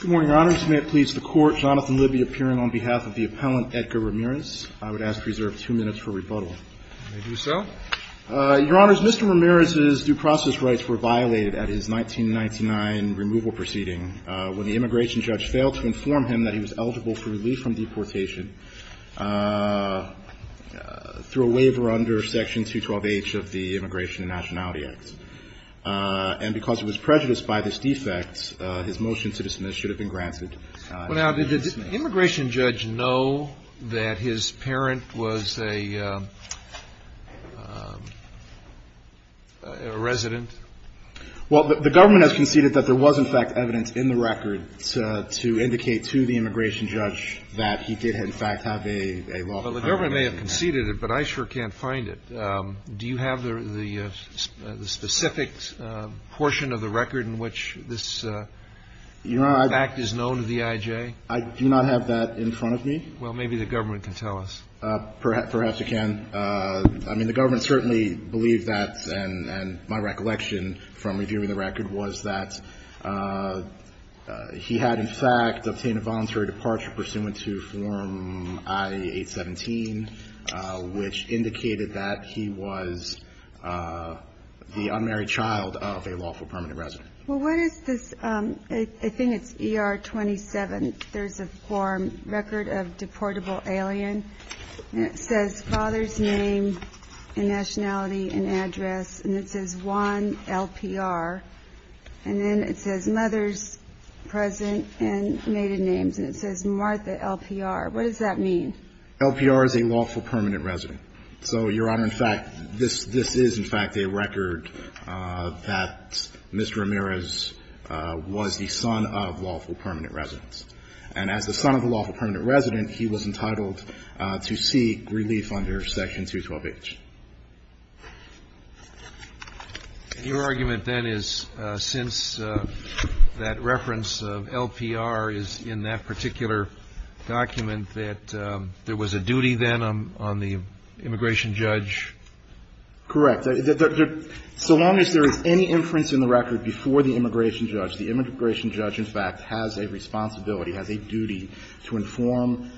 Good morning, Your Honors. May it please the Court, Jonathan Libby appearing on behalf of the appellant, Edgar Ramirez. I would ask to reserve two minutes for rebuttal. I do so. Your Honors, Mr. Ramirez's due process rights were violated at his 1999 removal proceeding when the immigration judge failed to inform him that he was eligible for relief from deportation through a waiver under Section 212H of the Immigration and Nationality Act. And because it was prejudiced by this defect, his motion to dismiss should have been granted. Well, now, did the immigration judge know that his parent was a resident? Well, the government has conceded that there was, in fact, evidence in the record to indicate to the immigration judge that he did, in fact, have a lawful accommodation. Well, the government may have conceded it, but I sure can't find it. Do you have the specific portion of the record in which this fact is known to the I.J.? I do not have that in front of me. Well, maybe the government can tell us. Perhaps it can. I mean, the government certainly believes that, and my recollection from reviewing the record was that he had, in fact, obtained a voluntary departure pursuant to Form I-817, which indicated that he was the unmarried child of a lawful permanent resident. Well, what is this? I think it's ER-27. There's a form, Record of Deportable Alien, and it says father's name and nationality and address, and it says Juan LPR. And then it says mother's present and native names, and it says Martha LPR. What does that mean? LPR is a lawful permanent resident. So, Your Honor, in fact, this is, in fact, a record that Mr. Ramirez was the son of lawful permanent residents. And as the son of a lawful permanent resident, he was entitled to seek relief under Section 212H. Your argument, then, is since that reference of LPR is in that particular document, that there was a duty, then, on the immigration judge? Correct. So long as there is any inference in the record before the immigration judge, the immigration judge, in fact, has a responsibility, has a duty to inform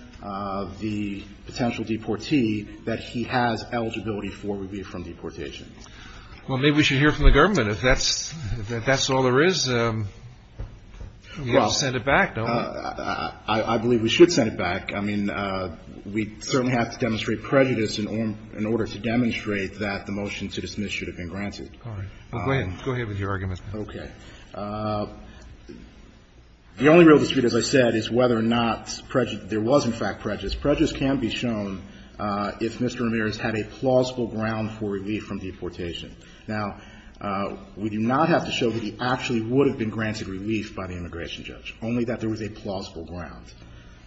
the potential deportee that he has eligibility for relief from deportation. Well, maybe we should hear from the government. If that's all there is, we ought to send it back, don't we? I believe we should send it back. I mean, we certainly have to demonstrate prejudice in order to demonstrate that the motion to dismiss should have been granted. Go ahead. Go ahead with your argument. Okay. The only real dispute, as I said, is whether or not there was, in fact, prejudice. Prejudice can be shown if Mr. Ramirez had a plausible ground for relief from deportation. Now, we do not have to show that he actually would have been granted relief by the immigration judge, only that there was a plausible ground.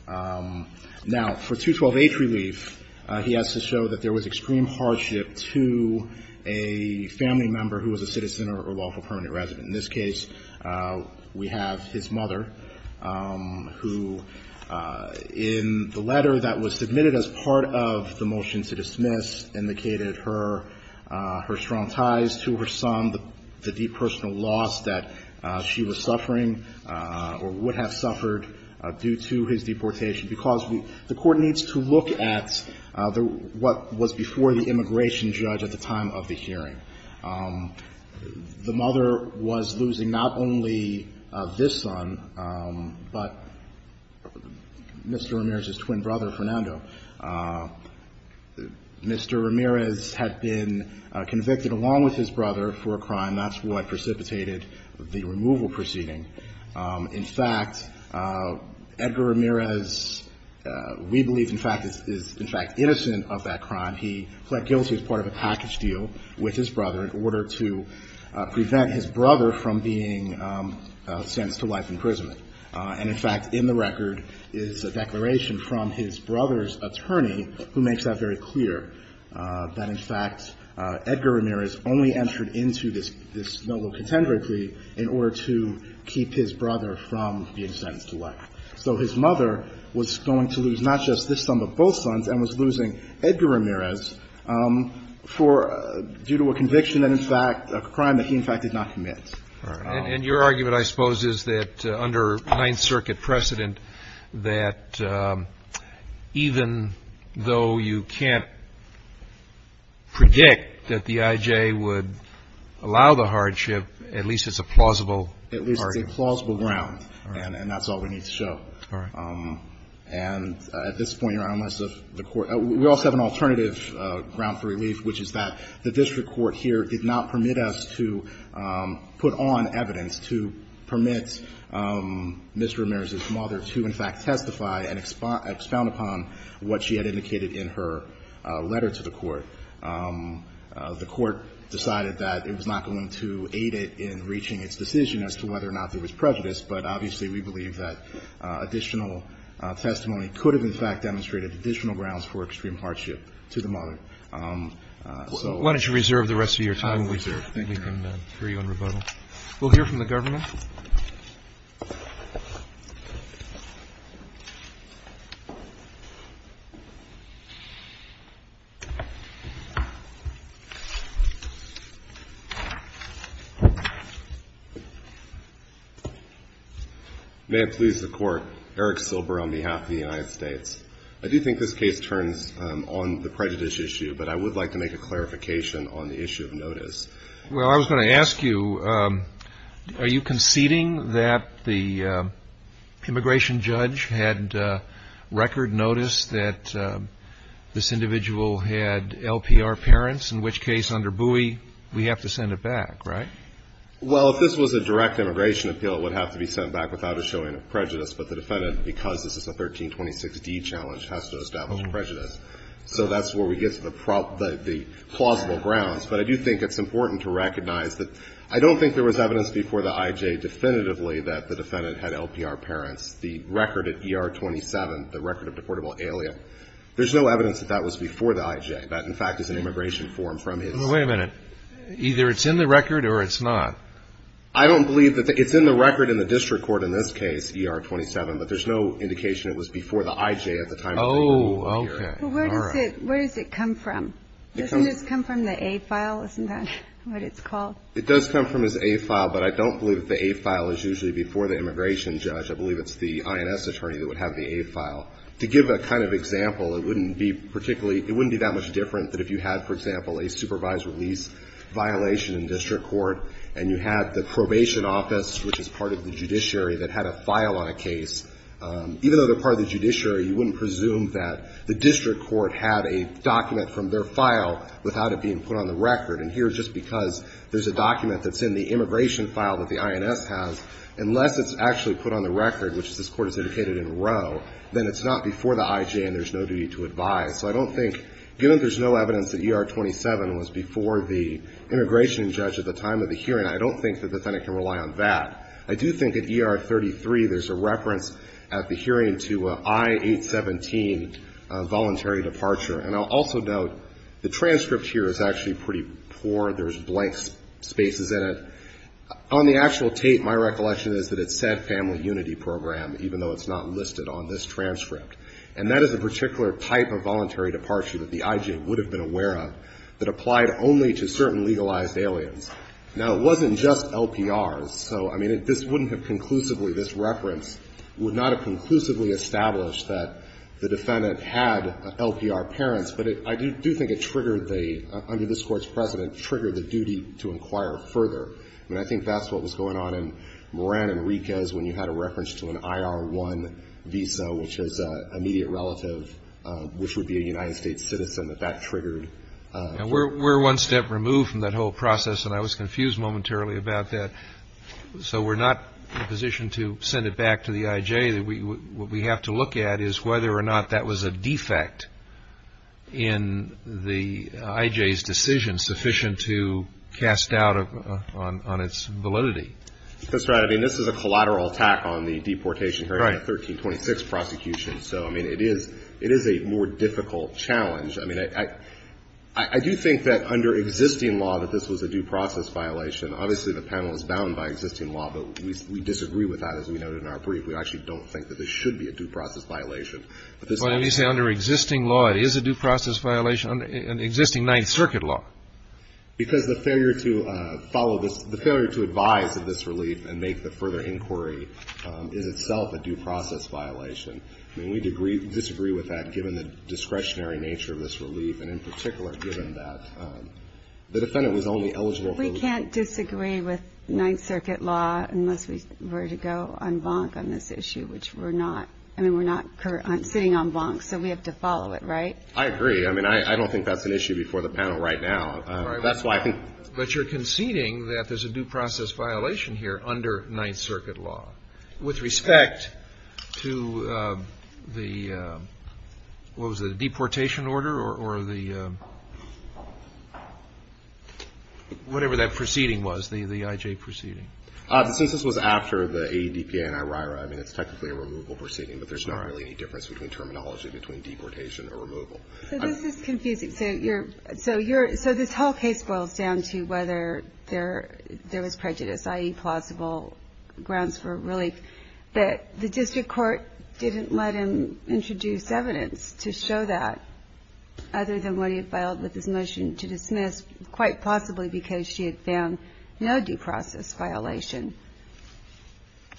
Now, for 212H relief, he has to show that there was extreme hardship to a family member who was a citizen or a lawful permanent resident. In this case, we have his mother, who in the letter that was submitted as part of the motion to dismiss indicated her strong ties to her son, the deep personal loss that she was suffering or would have suffered due to his deportation, because the Court needs to look at what was before the immigration judge at the time of the hearing. The mother was losing not only this son, but Mr. Ramirez's twin brother, Fernando. Mr. Ramirez had been convicted, along with his brother, for a crime. That's what precipitated the removal proceeding. In fact, Edgar Ramirez, we believe, in fact, is in fact innocent of that crime. He pled guilty as part of a package deal with his brother in order to prevent his brother from being sentenced to life imprisonment. And, in fact, in the record is a declaration from his brother's attorney, who makes that very clear, that, in fact, Edgar Ramirez only entered into this noble contenderate plea in order to keep his brother from being sentenced to life. So his mother was going to lose not just this son, but both sons, and was losing Edgar Ramirez due to a conviction and, in fact, a crime that he, in fact, did not commit. And your argument, I suppose, is that under Ninth Circuit precedent, that even though you can't predict that the I.J. would allow the hardship, at least it's a plausible argument. And that's all we need to show. And at this point, Your Honor, unless the Court – we also have an alternative ground for relief, which is that the district court here did not permit us to put on evidence to permit Mr. Ramirez's mother to, in fact, testify and expound upon what she had indicated in her letter to the Court. The Court decided that it was not going to aid it in reaching its decision as to whether or not there was prejudice. But obviously, we believe that additional testimony could have, in fact, demonstrated additional grounds for extreme hardship to the mother. So – Why don't you reserve the rest of your time? I will reserve. Thank you, Your Honor. We can agree on rebuttal. We'll hear from the government. May it please the Court, Eric Silber on behalf of the United States. I do think this case turns on the prejudice issue, but I would like to make a clarification on the issue of notice. Well, I was going to ask you, are you concerned that this is a case of prejudice? It's a case of prejudice. Conceding that the immigration judge had record notice that this individual had LPR parents, in which case under Bowie, we have to send it back, right? Well, if this was a direct immigration appeal, it would have to be sent back without a showing of prejudice. But the defendant, because this is a 1326d challenge, has to establish prejudice. So that's where we get to the plausible grounds. But I do think it's important to recognize that I don't think there was evidence before the IJ definitively that the defendant had LPR parents. The record at ER 27, the record of deportable alien, there's no evidence that that was before the IJ. That, in fact, is an immigration form from his – Wait a minute. Either it's in the record or it's not. I don't believe that – it's in the record in the district court in this case, ER 27, but there's no indication it was before the IJ at the time – Oh, okay. All right. Where does it come from? Doesn't this come from the A file? Isn't that what it's called? It does come from his A file, but I don't believe that the A file is usually before the immigration judge. I believe it's the INS attorney that would have the A file. To give a kind of example, it wouldn't be particularly – it wouldn't be that much different than if you had, for example, a supervised release violation in district court and you had the probation office, which is part of the judiciary, that had a file on a case. Even though they're part of the judiciary, you wouldn't presume that the district court had a document from their file without it being put on the record. And here, just because there's a document that's in the immigration file that the INS has, unless it's actually put on the record, which this Court has indicated in row, then it's not before the IJ and there's no duty to advise. So I don't think – given there's no evidence that ER 27 was before the immigration judge at the time of the hearing, I don't think that the defendant can rely on that. I do think at ER 33 there's a reference at the hearing to I-817 voluntary departure. And I'll also note the transcript here is actually pretty poor. There's blank spaces in it. On the actual tape, my recollection is that it said family unity program, even though it's not listed on this transcript. And that is a particular type of voluntary departure that the IJ would have been aware of that applied only to certain legalized aliens. Now, it wasn't just LPRs. So, I mean, this wouldn't have conclusively – this reference would not have conclusively established that the defendant had LPR parents. But it – I do think it triggered the – under this Court's precedent, triggered the duty to inquire further. I mean, I think that's what was going on in Moran and Riquez when you had a reference to an IR-1 visa, which is immediate relative, which would be a United States citizen, that that triggered. We're one step removed from that whole process, and I was confused momentarily about that. So we're not in a position to send it back to the IJ. What we have to look at is whether or not that was a defect in the IJ's decision sufficient to cast doubt on its validity. That's right. I mean, this is a collateral attack on the deportation hearing in the 1326 prosecution. So, I mean, it is a more difficult challenge. I mean, I – I do think that under existing law that this was a due process violation. Obviously, the panel is bound by existing law, but we disagree with that, as we noted in our brief. We actually don't think that this should be a due process violation. But this law is a due process violation. But when you say under existing law, it is a due process violation under existing Ninth Circuit law. Because the failure to follow this – the failure to advise of this relief and make the further inquiry is itself a due process violation. I mean, we disagree with that, given the discretionary nature of this relief, and in particular, given that the defendant was only eligible for the relief. We can't disagree with Ninth Circuit law unless we were to go en banc on this issue, which we're not. I mean, we're not sitting en banc, so we have to follow it, right? I agree. I mean, I don't think that's an issue before the panel right now. That's why I think – But you're conceding that there's a due process violation here under Ninth Circuit law with respect to the – what was it? The deportation order or the – whatever that proceeding was, the IJ proceeding. Since this was after the ADPA and IRIRA, I mean, it's technically a removal proceeding, but there's not really any difference between terminology between deportation or removal. So this is confusing. So you're – so this whole case boils down to whether there was prejudice, i.e., whether there was a false or a plausible grounds for relief, that the district court didn't let him introduce evidence to show that, other than what he had filed with his motion to dismiss, quite possibly because she had found no due process violation.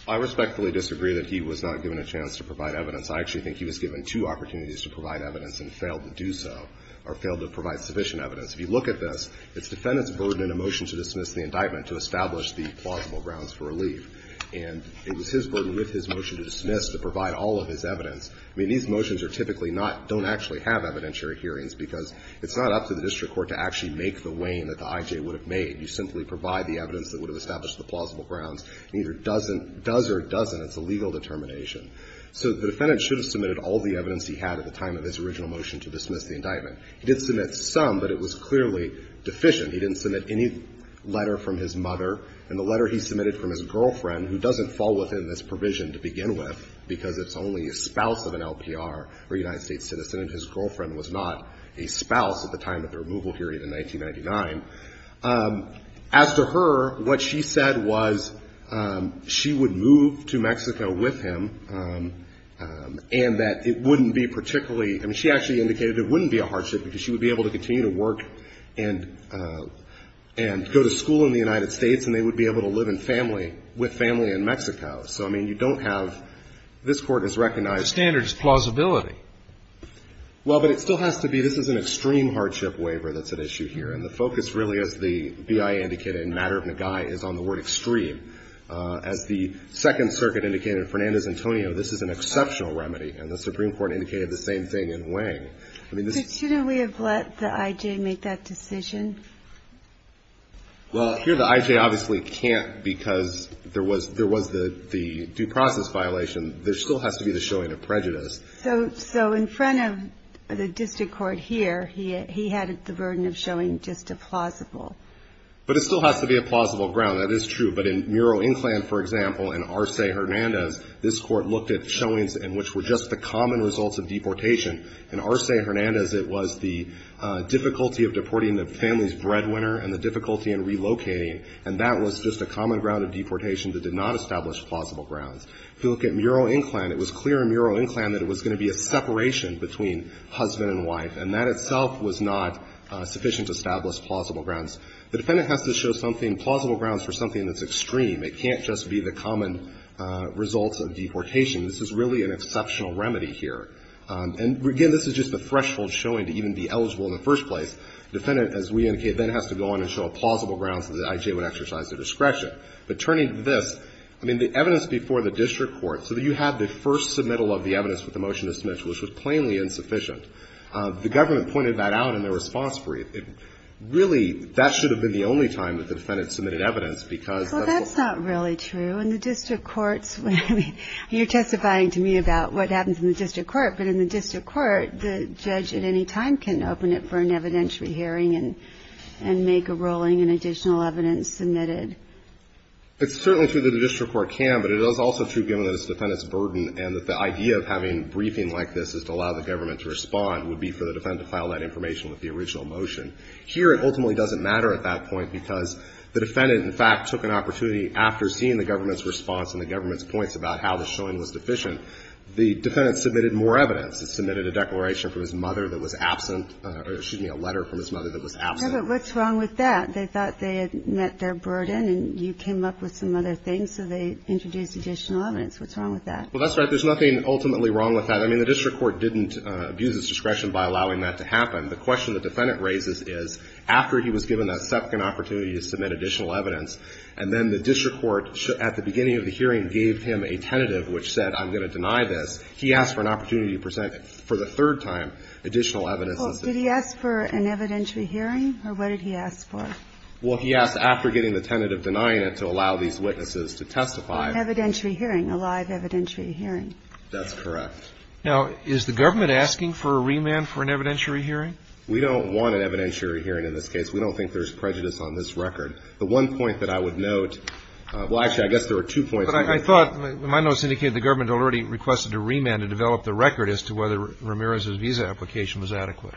I respectfully disagree that he was not given a chance to provide evidence. I actually think he was given two opportunities to provide evidence and failed to do so, or failed to provide sufficient evidence. If you look at this, it's defendant's burden in a motion to dismiss the indictment to establish the plausible grounds for relief, and it was his burden with his motion to dismiss to provide all of his evidence. I mean, these motions are typically not – don't actually have evidentiary hearings because it's not up to the district court to actually make the weighing that the IJ would have made. You simply provide the evidence that would have established the plausible grounds. It either doesn't – does or doesn't. It's a legal determination. So the defendant should have submitted all the evidence he had at the time of his original motion to dismiss the indictment. He did submit some, but it was clearly deficient. He didn't submit any letter from his mother. And the letter he submitted from his girlfriend, who doesn't fall within this provision to begin with because it's only a spouse of an LPR or a United States citizen and his girlfriend was not a spouse at the time of the removal hearing in 1999. As to her, what she said was she would move to Mexico with him and that it wouldn't be particularly – I mean, she actually indicated it wouldn't be a hardship because she would be able to continue to work and go to school in the United States and they would be able to live in family – with family in Mexico. So, I mean, you don't have – this Court has recognized – The standard is plausibility. Well, but it still has to be – this is an extreme hardship waiver that's at issue here, and the focus really, as the BIA indicated in Matter of Nagai, is on the word extreme. As the Second Circuit indicated in Fernandez-Antonio, this is an exceptional remedy, and the Supreme Court indicated the same thing in Wang. Shouldn't we have let the IJ make that decision? Well, here the IJ obviously can't because there was the due process violation. There still has to be the showing of prejudice. So, in front of the district court here, he had the burden of showing just a plausible. But it still has to be a plausible ground. That is true. But in Muro-Inclan, for example, and Arce-Hernandez, this Court looked at showings in which were just the common results of deportation. In Arce-Hernandez, it was the difficulty of deporting the family's breadwinner and the difficulty in relocating, and that was just a common ground of deportation that did not establish plausible grounds. If you look at Muro-Inclan, it was clear in Muro-Inclan that it was going to be a separation between husband and wife, and that itself was not sufficient to establish plausible grounds. The defendant has to show something, plausible grounds for something that's extreme. It can't just be the common results of deportation. This is really an exceptional remedy here. And, again, this is just the threshold showing to even be eligible in the first place. The defendant, as we indicated, then has to go on and show plausible grounds that the IJ would exercise their discretion. But turning to this, I mean, the evidence before the district court, so that you have the first submittal of the evidence with the motion to submit to it, which was plainly insufficient. The government pointed that out in their response brief. Really, that should have been the only time that the defendant submitted evidence, because that's what's going on. Well, that's not really true. In the district courts, I mean, you're testifying to me about what happens in the district court, but in the district court, the judge at any time can open it for an evidentiary hearing and make a ruling and additional evidence submitted. It's certainly true that the district court can, but it is also true, given that it's the defendant's burden and that the idea of having a briefing like this is to allow the government to respond, would be for the defendant to file that information with the original motion. Here, it ultimately doesn't matter at that point, because the defendant, in fact, took an opportunity after seeing the government's response and the government's points about how the showing was deficient. The defendant submitted more evidence. It submitted a declaration from his mother that was absent, or excuse me, a letter from his mother that was absent. Yeah, but what's wrong with that? They thought they had met their burden and you came up with some other things, so they introduced additional evidence. What's wrong with that? Well, that's right. There's nothing ultimately wrong with that. I mean, the district court didn't abuse its discretion by allowing that to happen. The question the defendant raises is, after he was given that second opportunity to submit additional evidence, and then the district court, at the beginning of the hearing, gave him a tentative which said, I'm going to deny this, he asked for an opportunity to present, for the third time, additional evidence. Well, did he ask for an evidentiary hearing, or what did he ask for? Well, he asked after getting the tentative, denying it, to allow these witnesses to testify. An evidentiary hearing, a live evidentiary hearing. That's correct. Now, is the government asking for a remand for an evidentiary hearing? We don't want an evidentiary hearing in this case. We don't think there's prejudice on this record. The one point that I would note, well, actually, I guess there are two points. But I thought, my notes indicated the government already requested a remand to develop the record as to whether Ramirez's visa application was adequate.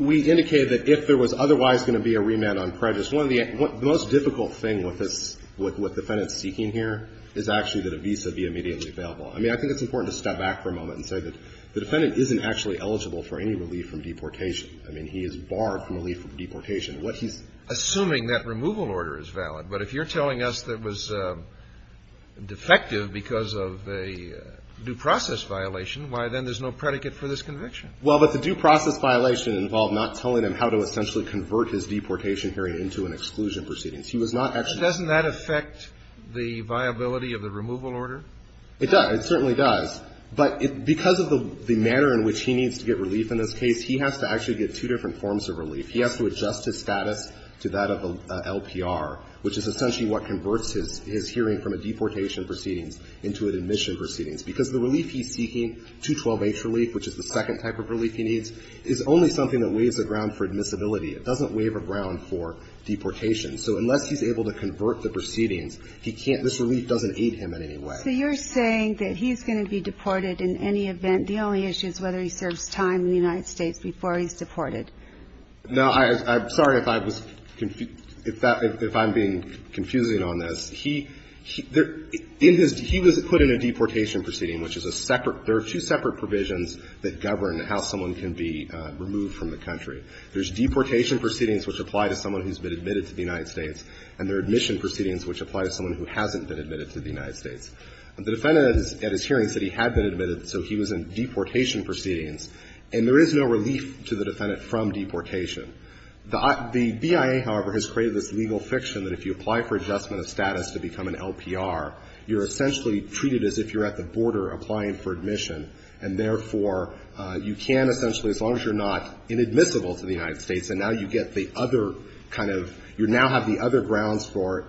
We indicated that if there was otherwise going to be a remand on prejudice, one of the most difficult thing with this, with what the defendant's seeking here, is actually that a visa be immediately available. I mean, I think it's important to step back for a moment and say that the defendant isn't actually eligible for any relief from deportation. I mean, he is barred from relief from deportation. What he's Assuming that removal order is valid. But if you're telling us that it was defective because of a due process violation, why then there's no predicate for this conviction? Well, but the due process violation involved not telling him how to essentially convert his deportation hearing into an exclusion proceedings. He was not actually Doesn't that affect the viability of the removal order? It does. It certainly does. But because of the manner in which he needs to get relief in this case, he has to actually get two different forms of relief. He has to adjust his status to that of an LPR, which is essentially what converts his hearing from a deportation proceedings into an admission proceedings. Because the relief he's seeking, 212H relief, which is the second type of relief he needs, is only something that weighs a ground for admissibility. It doesn't weigh a ground for deportation. So unless he's able to convert the proceedings, he can't – this relief doesn't aid him in any way. So you're saying that he's going to be deported in any event. The only issue is whether he serves time in the United States before he's deported. No. I'm sorry if I was – if I'm being confusing on this. He – there – in his – he was put in a deportation proceeding, which is a separate – there are two separate provisions that govern how someone can be removed from the country. There's deportation proceedings, which apply to someone who's been admitted to the United States, and there are admission proceedings, which apply to someone who hasn't been admitted to the United States. The defendant at his hearing said he had been admitted, so he was in deportation proceedings. And there is no relief to the defendant from deportation. The BIA, however, has created this legal fiction that if you apply for adjustment of status to become an LPR, you're essentially treated as if you're at the border applying for admission, and therefore, you can essentially, as long as you're not inadmissible to the United States, and now you get the other kind of – you now have the other grounds for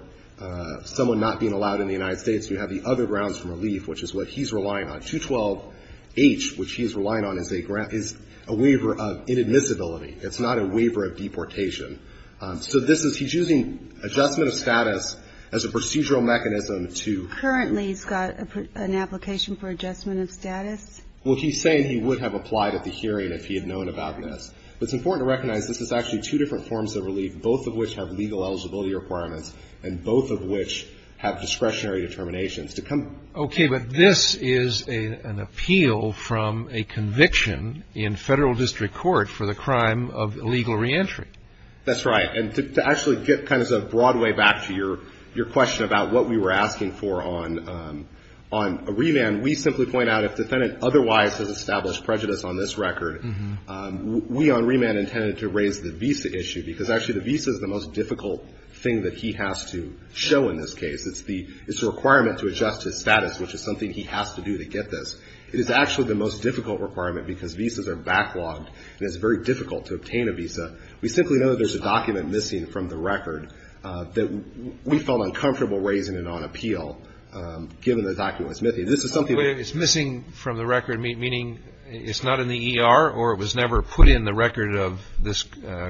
someone not being allowed in the United States. You have the other grounds for relief, which is what he's relying on. 212H, which he's relying on, is a waiver of inadmissibility. It's not a waiver of deportation. So this is – he's using adjustment of status as a procedural mechanism to – Currently, he's got an application for adjustment of status? Well, he's saying he would have applied at the hearing if he had known about this. But it's important to recognize this is actually two different forms of relief, both of which have legal eligibility requirements, and both of which have discretionary determinations to come. Okay. But this is an appeal from a conviction in federal district court for the crime of illegal reentry. That's right. And to actually get kind of a broad way back to your question about what we were asking for on a remand, we simply point out if defendant otherwise has established prejudice on this record, we on remand intended to raise the visa issue, because actually the visa is the most difficult thing that he has to show in this case. It's the – it's a requirement to adjust his status, which is something he has to do to get this. It is actually the most difficult requirement because visas are backlogged, and it's very difficult to obtain a visa. We simply know that there's a document missing from the record that we felt uncomfortable raising it on appeal, given the document's myth. This is something that's missing from the record, meaning it's not in the ER or it was never put in the record of this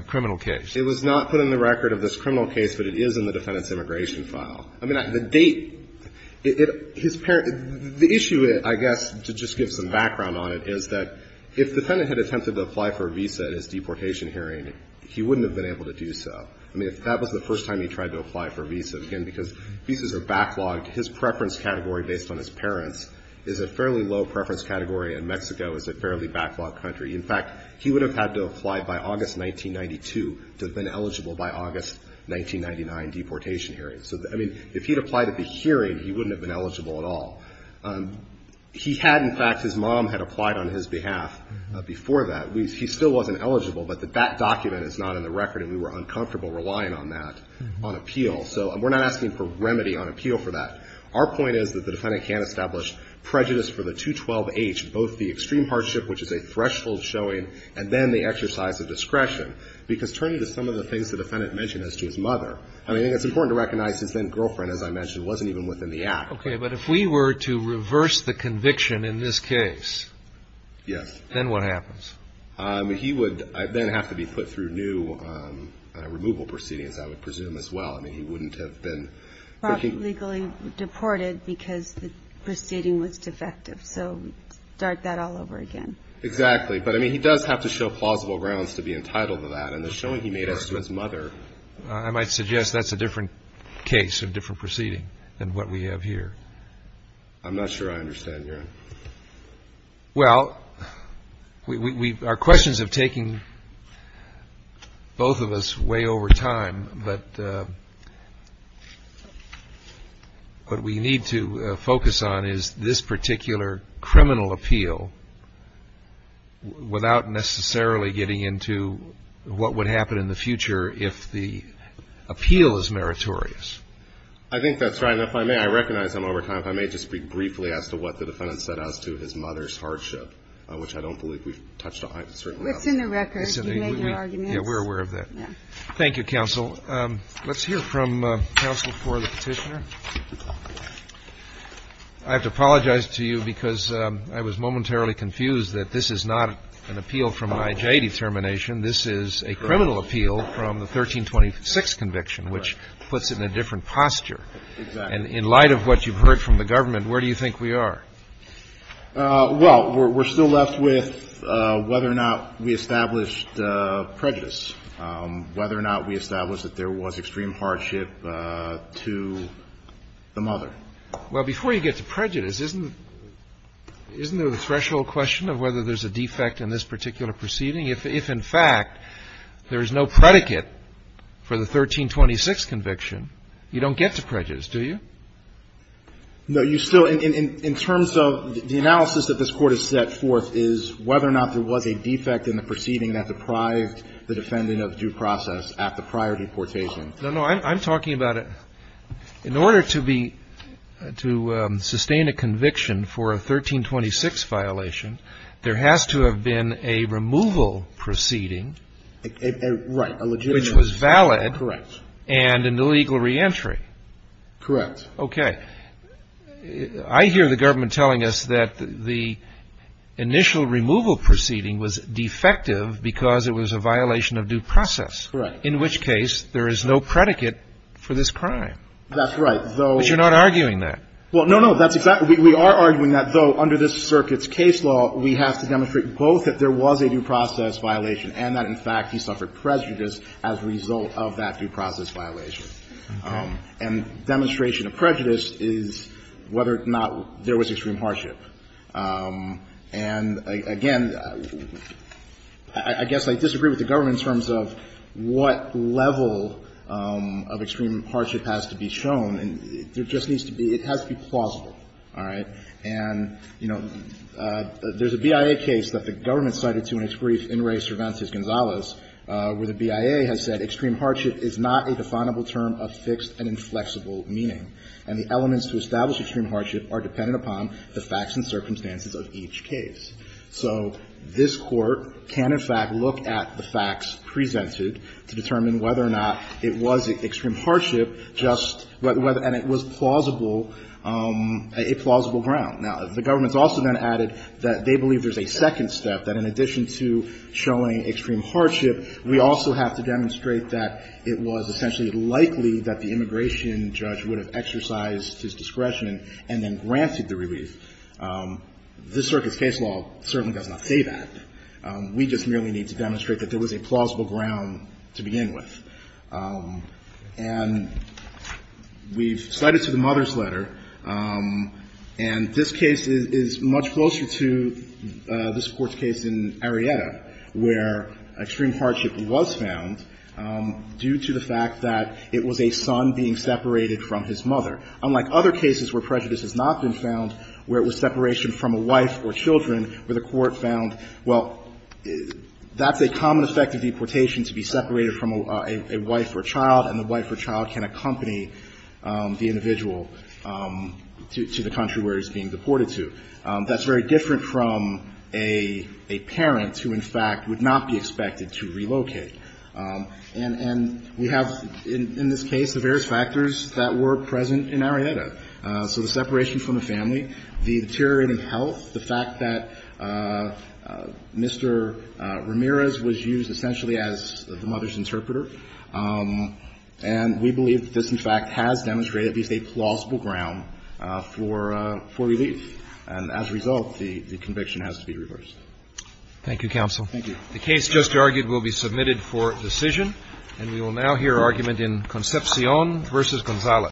criminal case. It was not put in the record of this criminal case, but it is in the defendant's immigration file. I mean, the date – his parent – the issue, I guess, to just give some background on it, is that if defendant had attempted to apply for a visa at his deportation hearing, he wouldn't have been able to do so. I mean, if that was the first time he tried to apply for a visa, again, because visas are backlogged, his preference category based on his parents is a fairly low preference category, and Mexico is a fairly backlogged country. In fact, he would have had to apply by August 1992 to have been eligible by August 1999 deportation hearing. So, I mean, if he'd applied at the hearing, he wouldn't have been eligible at all. He had, in fact – his mom had applied on his behalf before that. He still wasn't eligible, but that document is not in the record, and we were uncomfortable relying on that on appeal. So we're not asking for remedy on appeal for that. Our point is that the defendant can't establish prejudice for the 212-H, both the extreme hardship, which is a threshold showing, and then the exercise of discretion, because turning to some of the things the defendant mentioned as to his mother, I mean, I think it's important to recognize his then-girlfriend, as I mentioned, wasn't even within the act. Okay. But if we were to reverse the conviction in this case. Yes. Then what happens? He would then have to be put through new removal proceedings, I would presume, as well. I mean, he wouldn't have been. Legally deported because the proceeding was defective. So start that all over again. Exactly. But, I mean, he does have to show plausible grounds to be entitled to that, and the showing he made as to his mother. I might suggest that's a different case, a different proceeding, than what we have here. I'm not sure I understand, Your Honor. Well, our questions have taken both of us way over time, but what we need to focus on is this particular criminal appeal, without necessarily getting into what would happen in the future if the appeal is meritorious. I think that's right, and if I may, I recognize I'm over time, but if I may just speak briefly as to what the defendant said as to his mother's hardship, which I don't believe we've touched on. It certainly hasn't. It's in the record. You can make your arguments. Yeah, we're aware of that. Thank you, counsel. Let's hear from counsel for the petitioner. I have to apologize to you because I was momentarily confused that this is not an appeal from an IJ determination. This is a criminal appeal from the 1326 conviction, which puts it in a different posture. Exactly. And in light of what you've heard from the government, where do you think we are? Well, we're still left with whether or not we established prejudice, whether or not we established that there was extreme hardship to the mother. Well, before you get to prejudice, isn't there the threshold question of whether there's a defect in this particular proceeding? If, in fact, there is no predicate for the 1326 conviction, you don't get to prejudice, do you? No. You still, in terms of the analysis that this Court has set forth, is whether or not there was a defect in the proceeding that deprived the defendant of due process at the prior deportation. No, no. I'm talking about in order to be, to sustain a conviction for a 1326 violation, there has to have been a removal proceeding. Right. A legitimate. Which was valid. Correct. And an illegal reentry. Correct. Okay. I hear the government telling us that the initial removal proceeding was defective because it was a violation of due process. Correct. In which case there is no predicate for this crime. That's right. Though. But you're not arguing that. Well, no, no. We are arguing that, though, under this circuit's case law, we have to demonstrate both that there was a due process violation and that, in fact, he suffered prejudice as a result of that due process violation. And demonstration of prejudice is whether or not there was extreme hardship. And, again, I guess I disagree with the government in terms of what level of extreme I think it has to be plausible. All right. And, you know, there's a BIA case that the government cited to in its brief in re Cervantes-Gonzalez, where the BIA has said extreme hardship is not a definable term of fixed and inflexible meaning. And the elements to establish extreme hardship are dependent upon the facts and circumstances of each case. So this Court can, in fact, look at the facts presented to determine whether or not it was extreme hardship, and it was plausible, a plausible ground. Now, the government's also then added that they believe there's a second step, that in addition to showing extreme hardship, we also have to demonstrate that it was essentially likely that the immigration judge would have exercised his discretion and then granted the relief. This circuit's case law certainly does not say that. We just merely need to demonstrate that there was a plausible ground to begin with. And we've cited to the mother's letter, and this case is much closer to this Court's case in Arellano, where extreme hardship was found due to the fact that it was a son being separated from his mother, unlike other cases where prejudice has not been found, where it was separation from a wife or children, where the Court found, well, that's a common effect of deportation, to be separated from a wife or child, and the wife or child can accompany the individual to the country where he's being deported to. That's very different from a parent who, in fact, would not be expected to relocate. And we have, in this case, the various factors that were present in Arellano. So the separation from the family, the deteriorating health, the fact that Mr. Ramirez was used essentially as the mother's interpreter, and we believe that this, in fact, has demonstrated to be a plausible ground for relief. And as a result, the conviction has to be reversed. Thank you, counsel. Thank you. The case just argued will be submitted for decision. And we will now hear argument in Concepcion v. Gonzalez.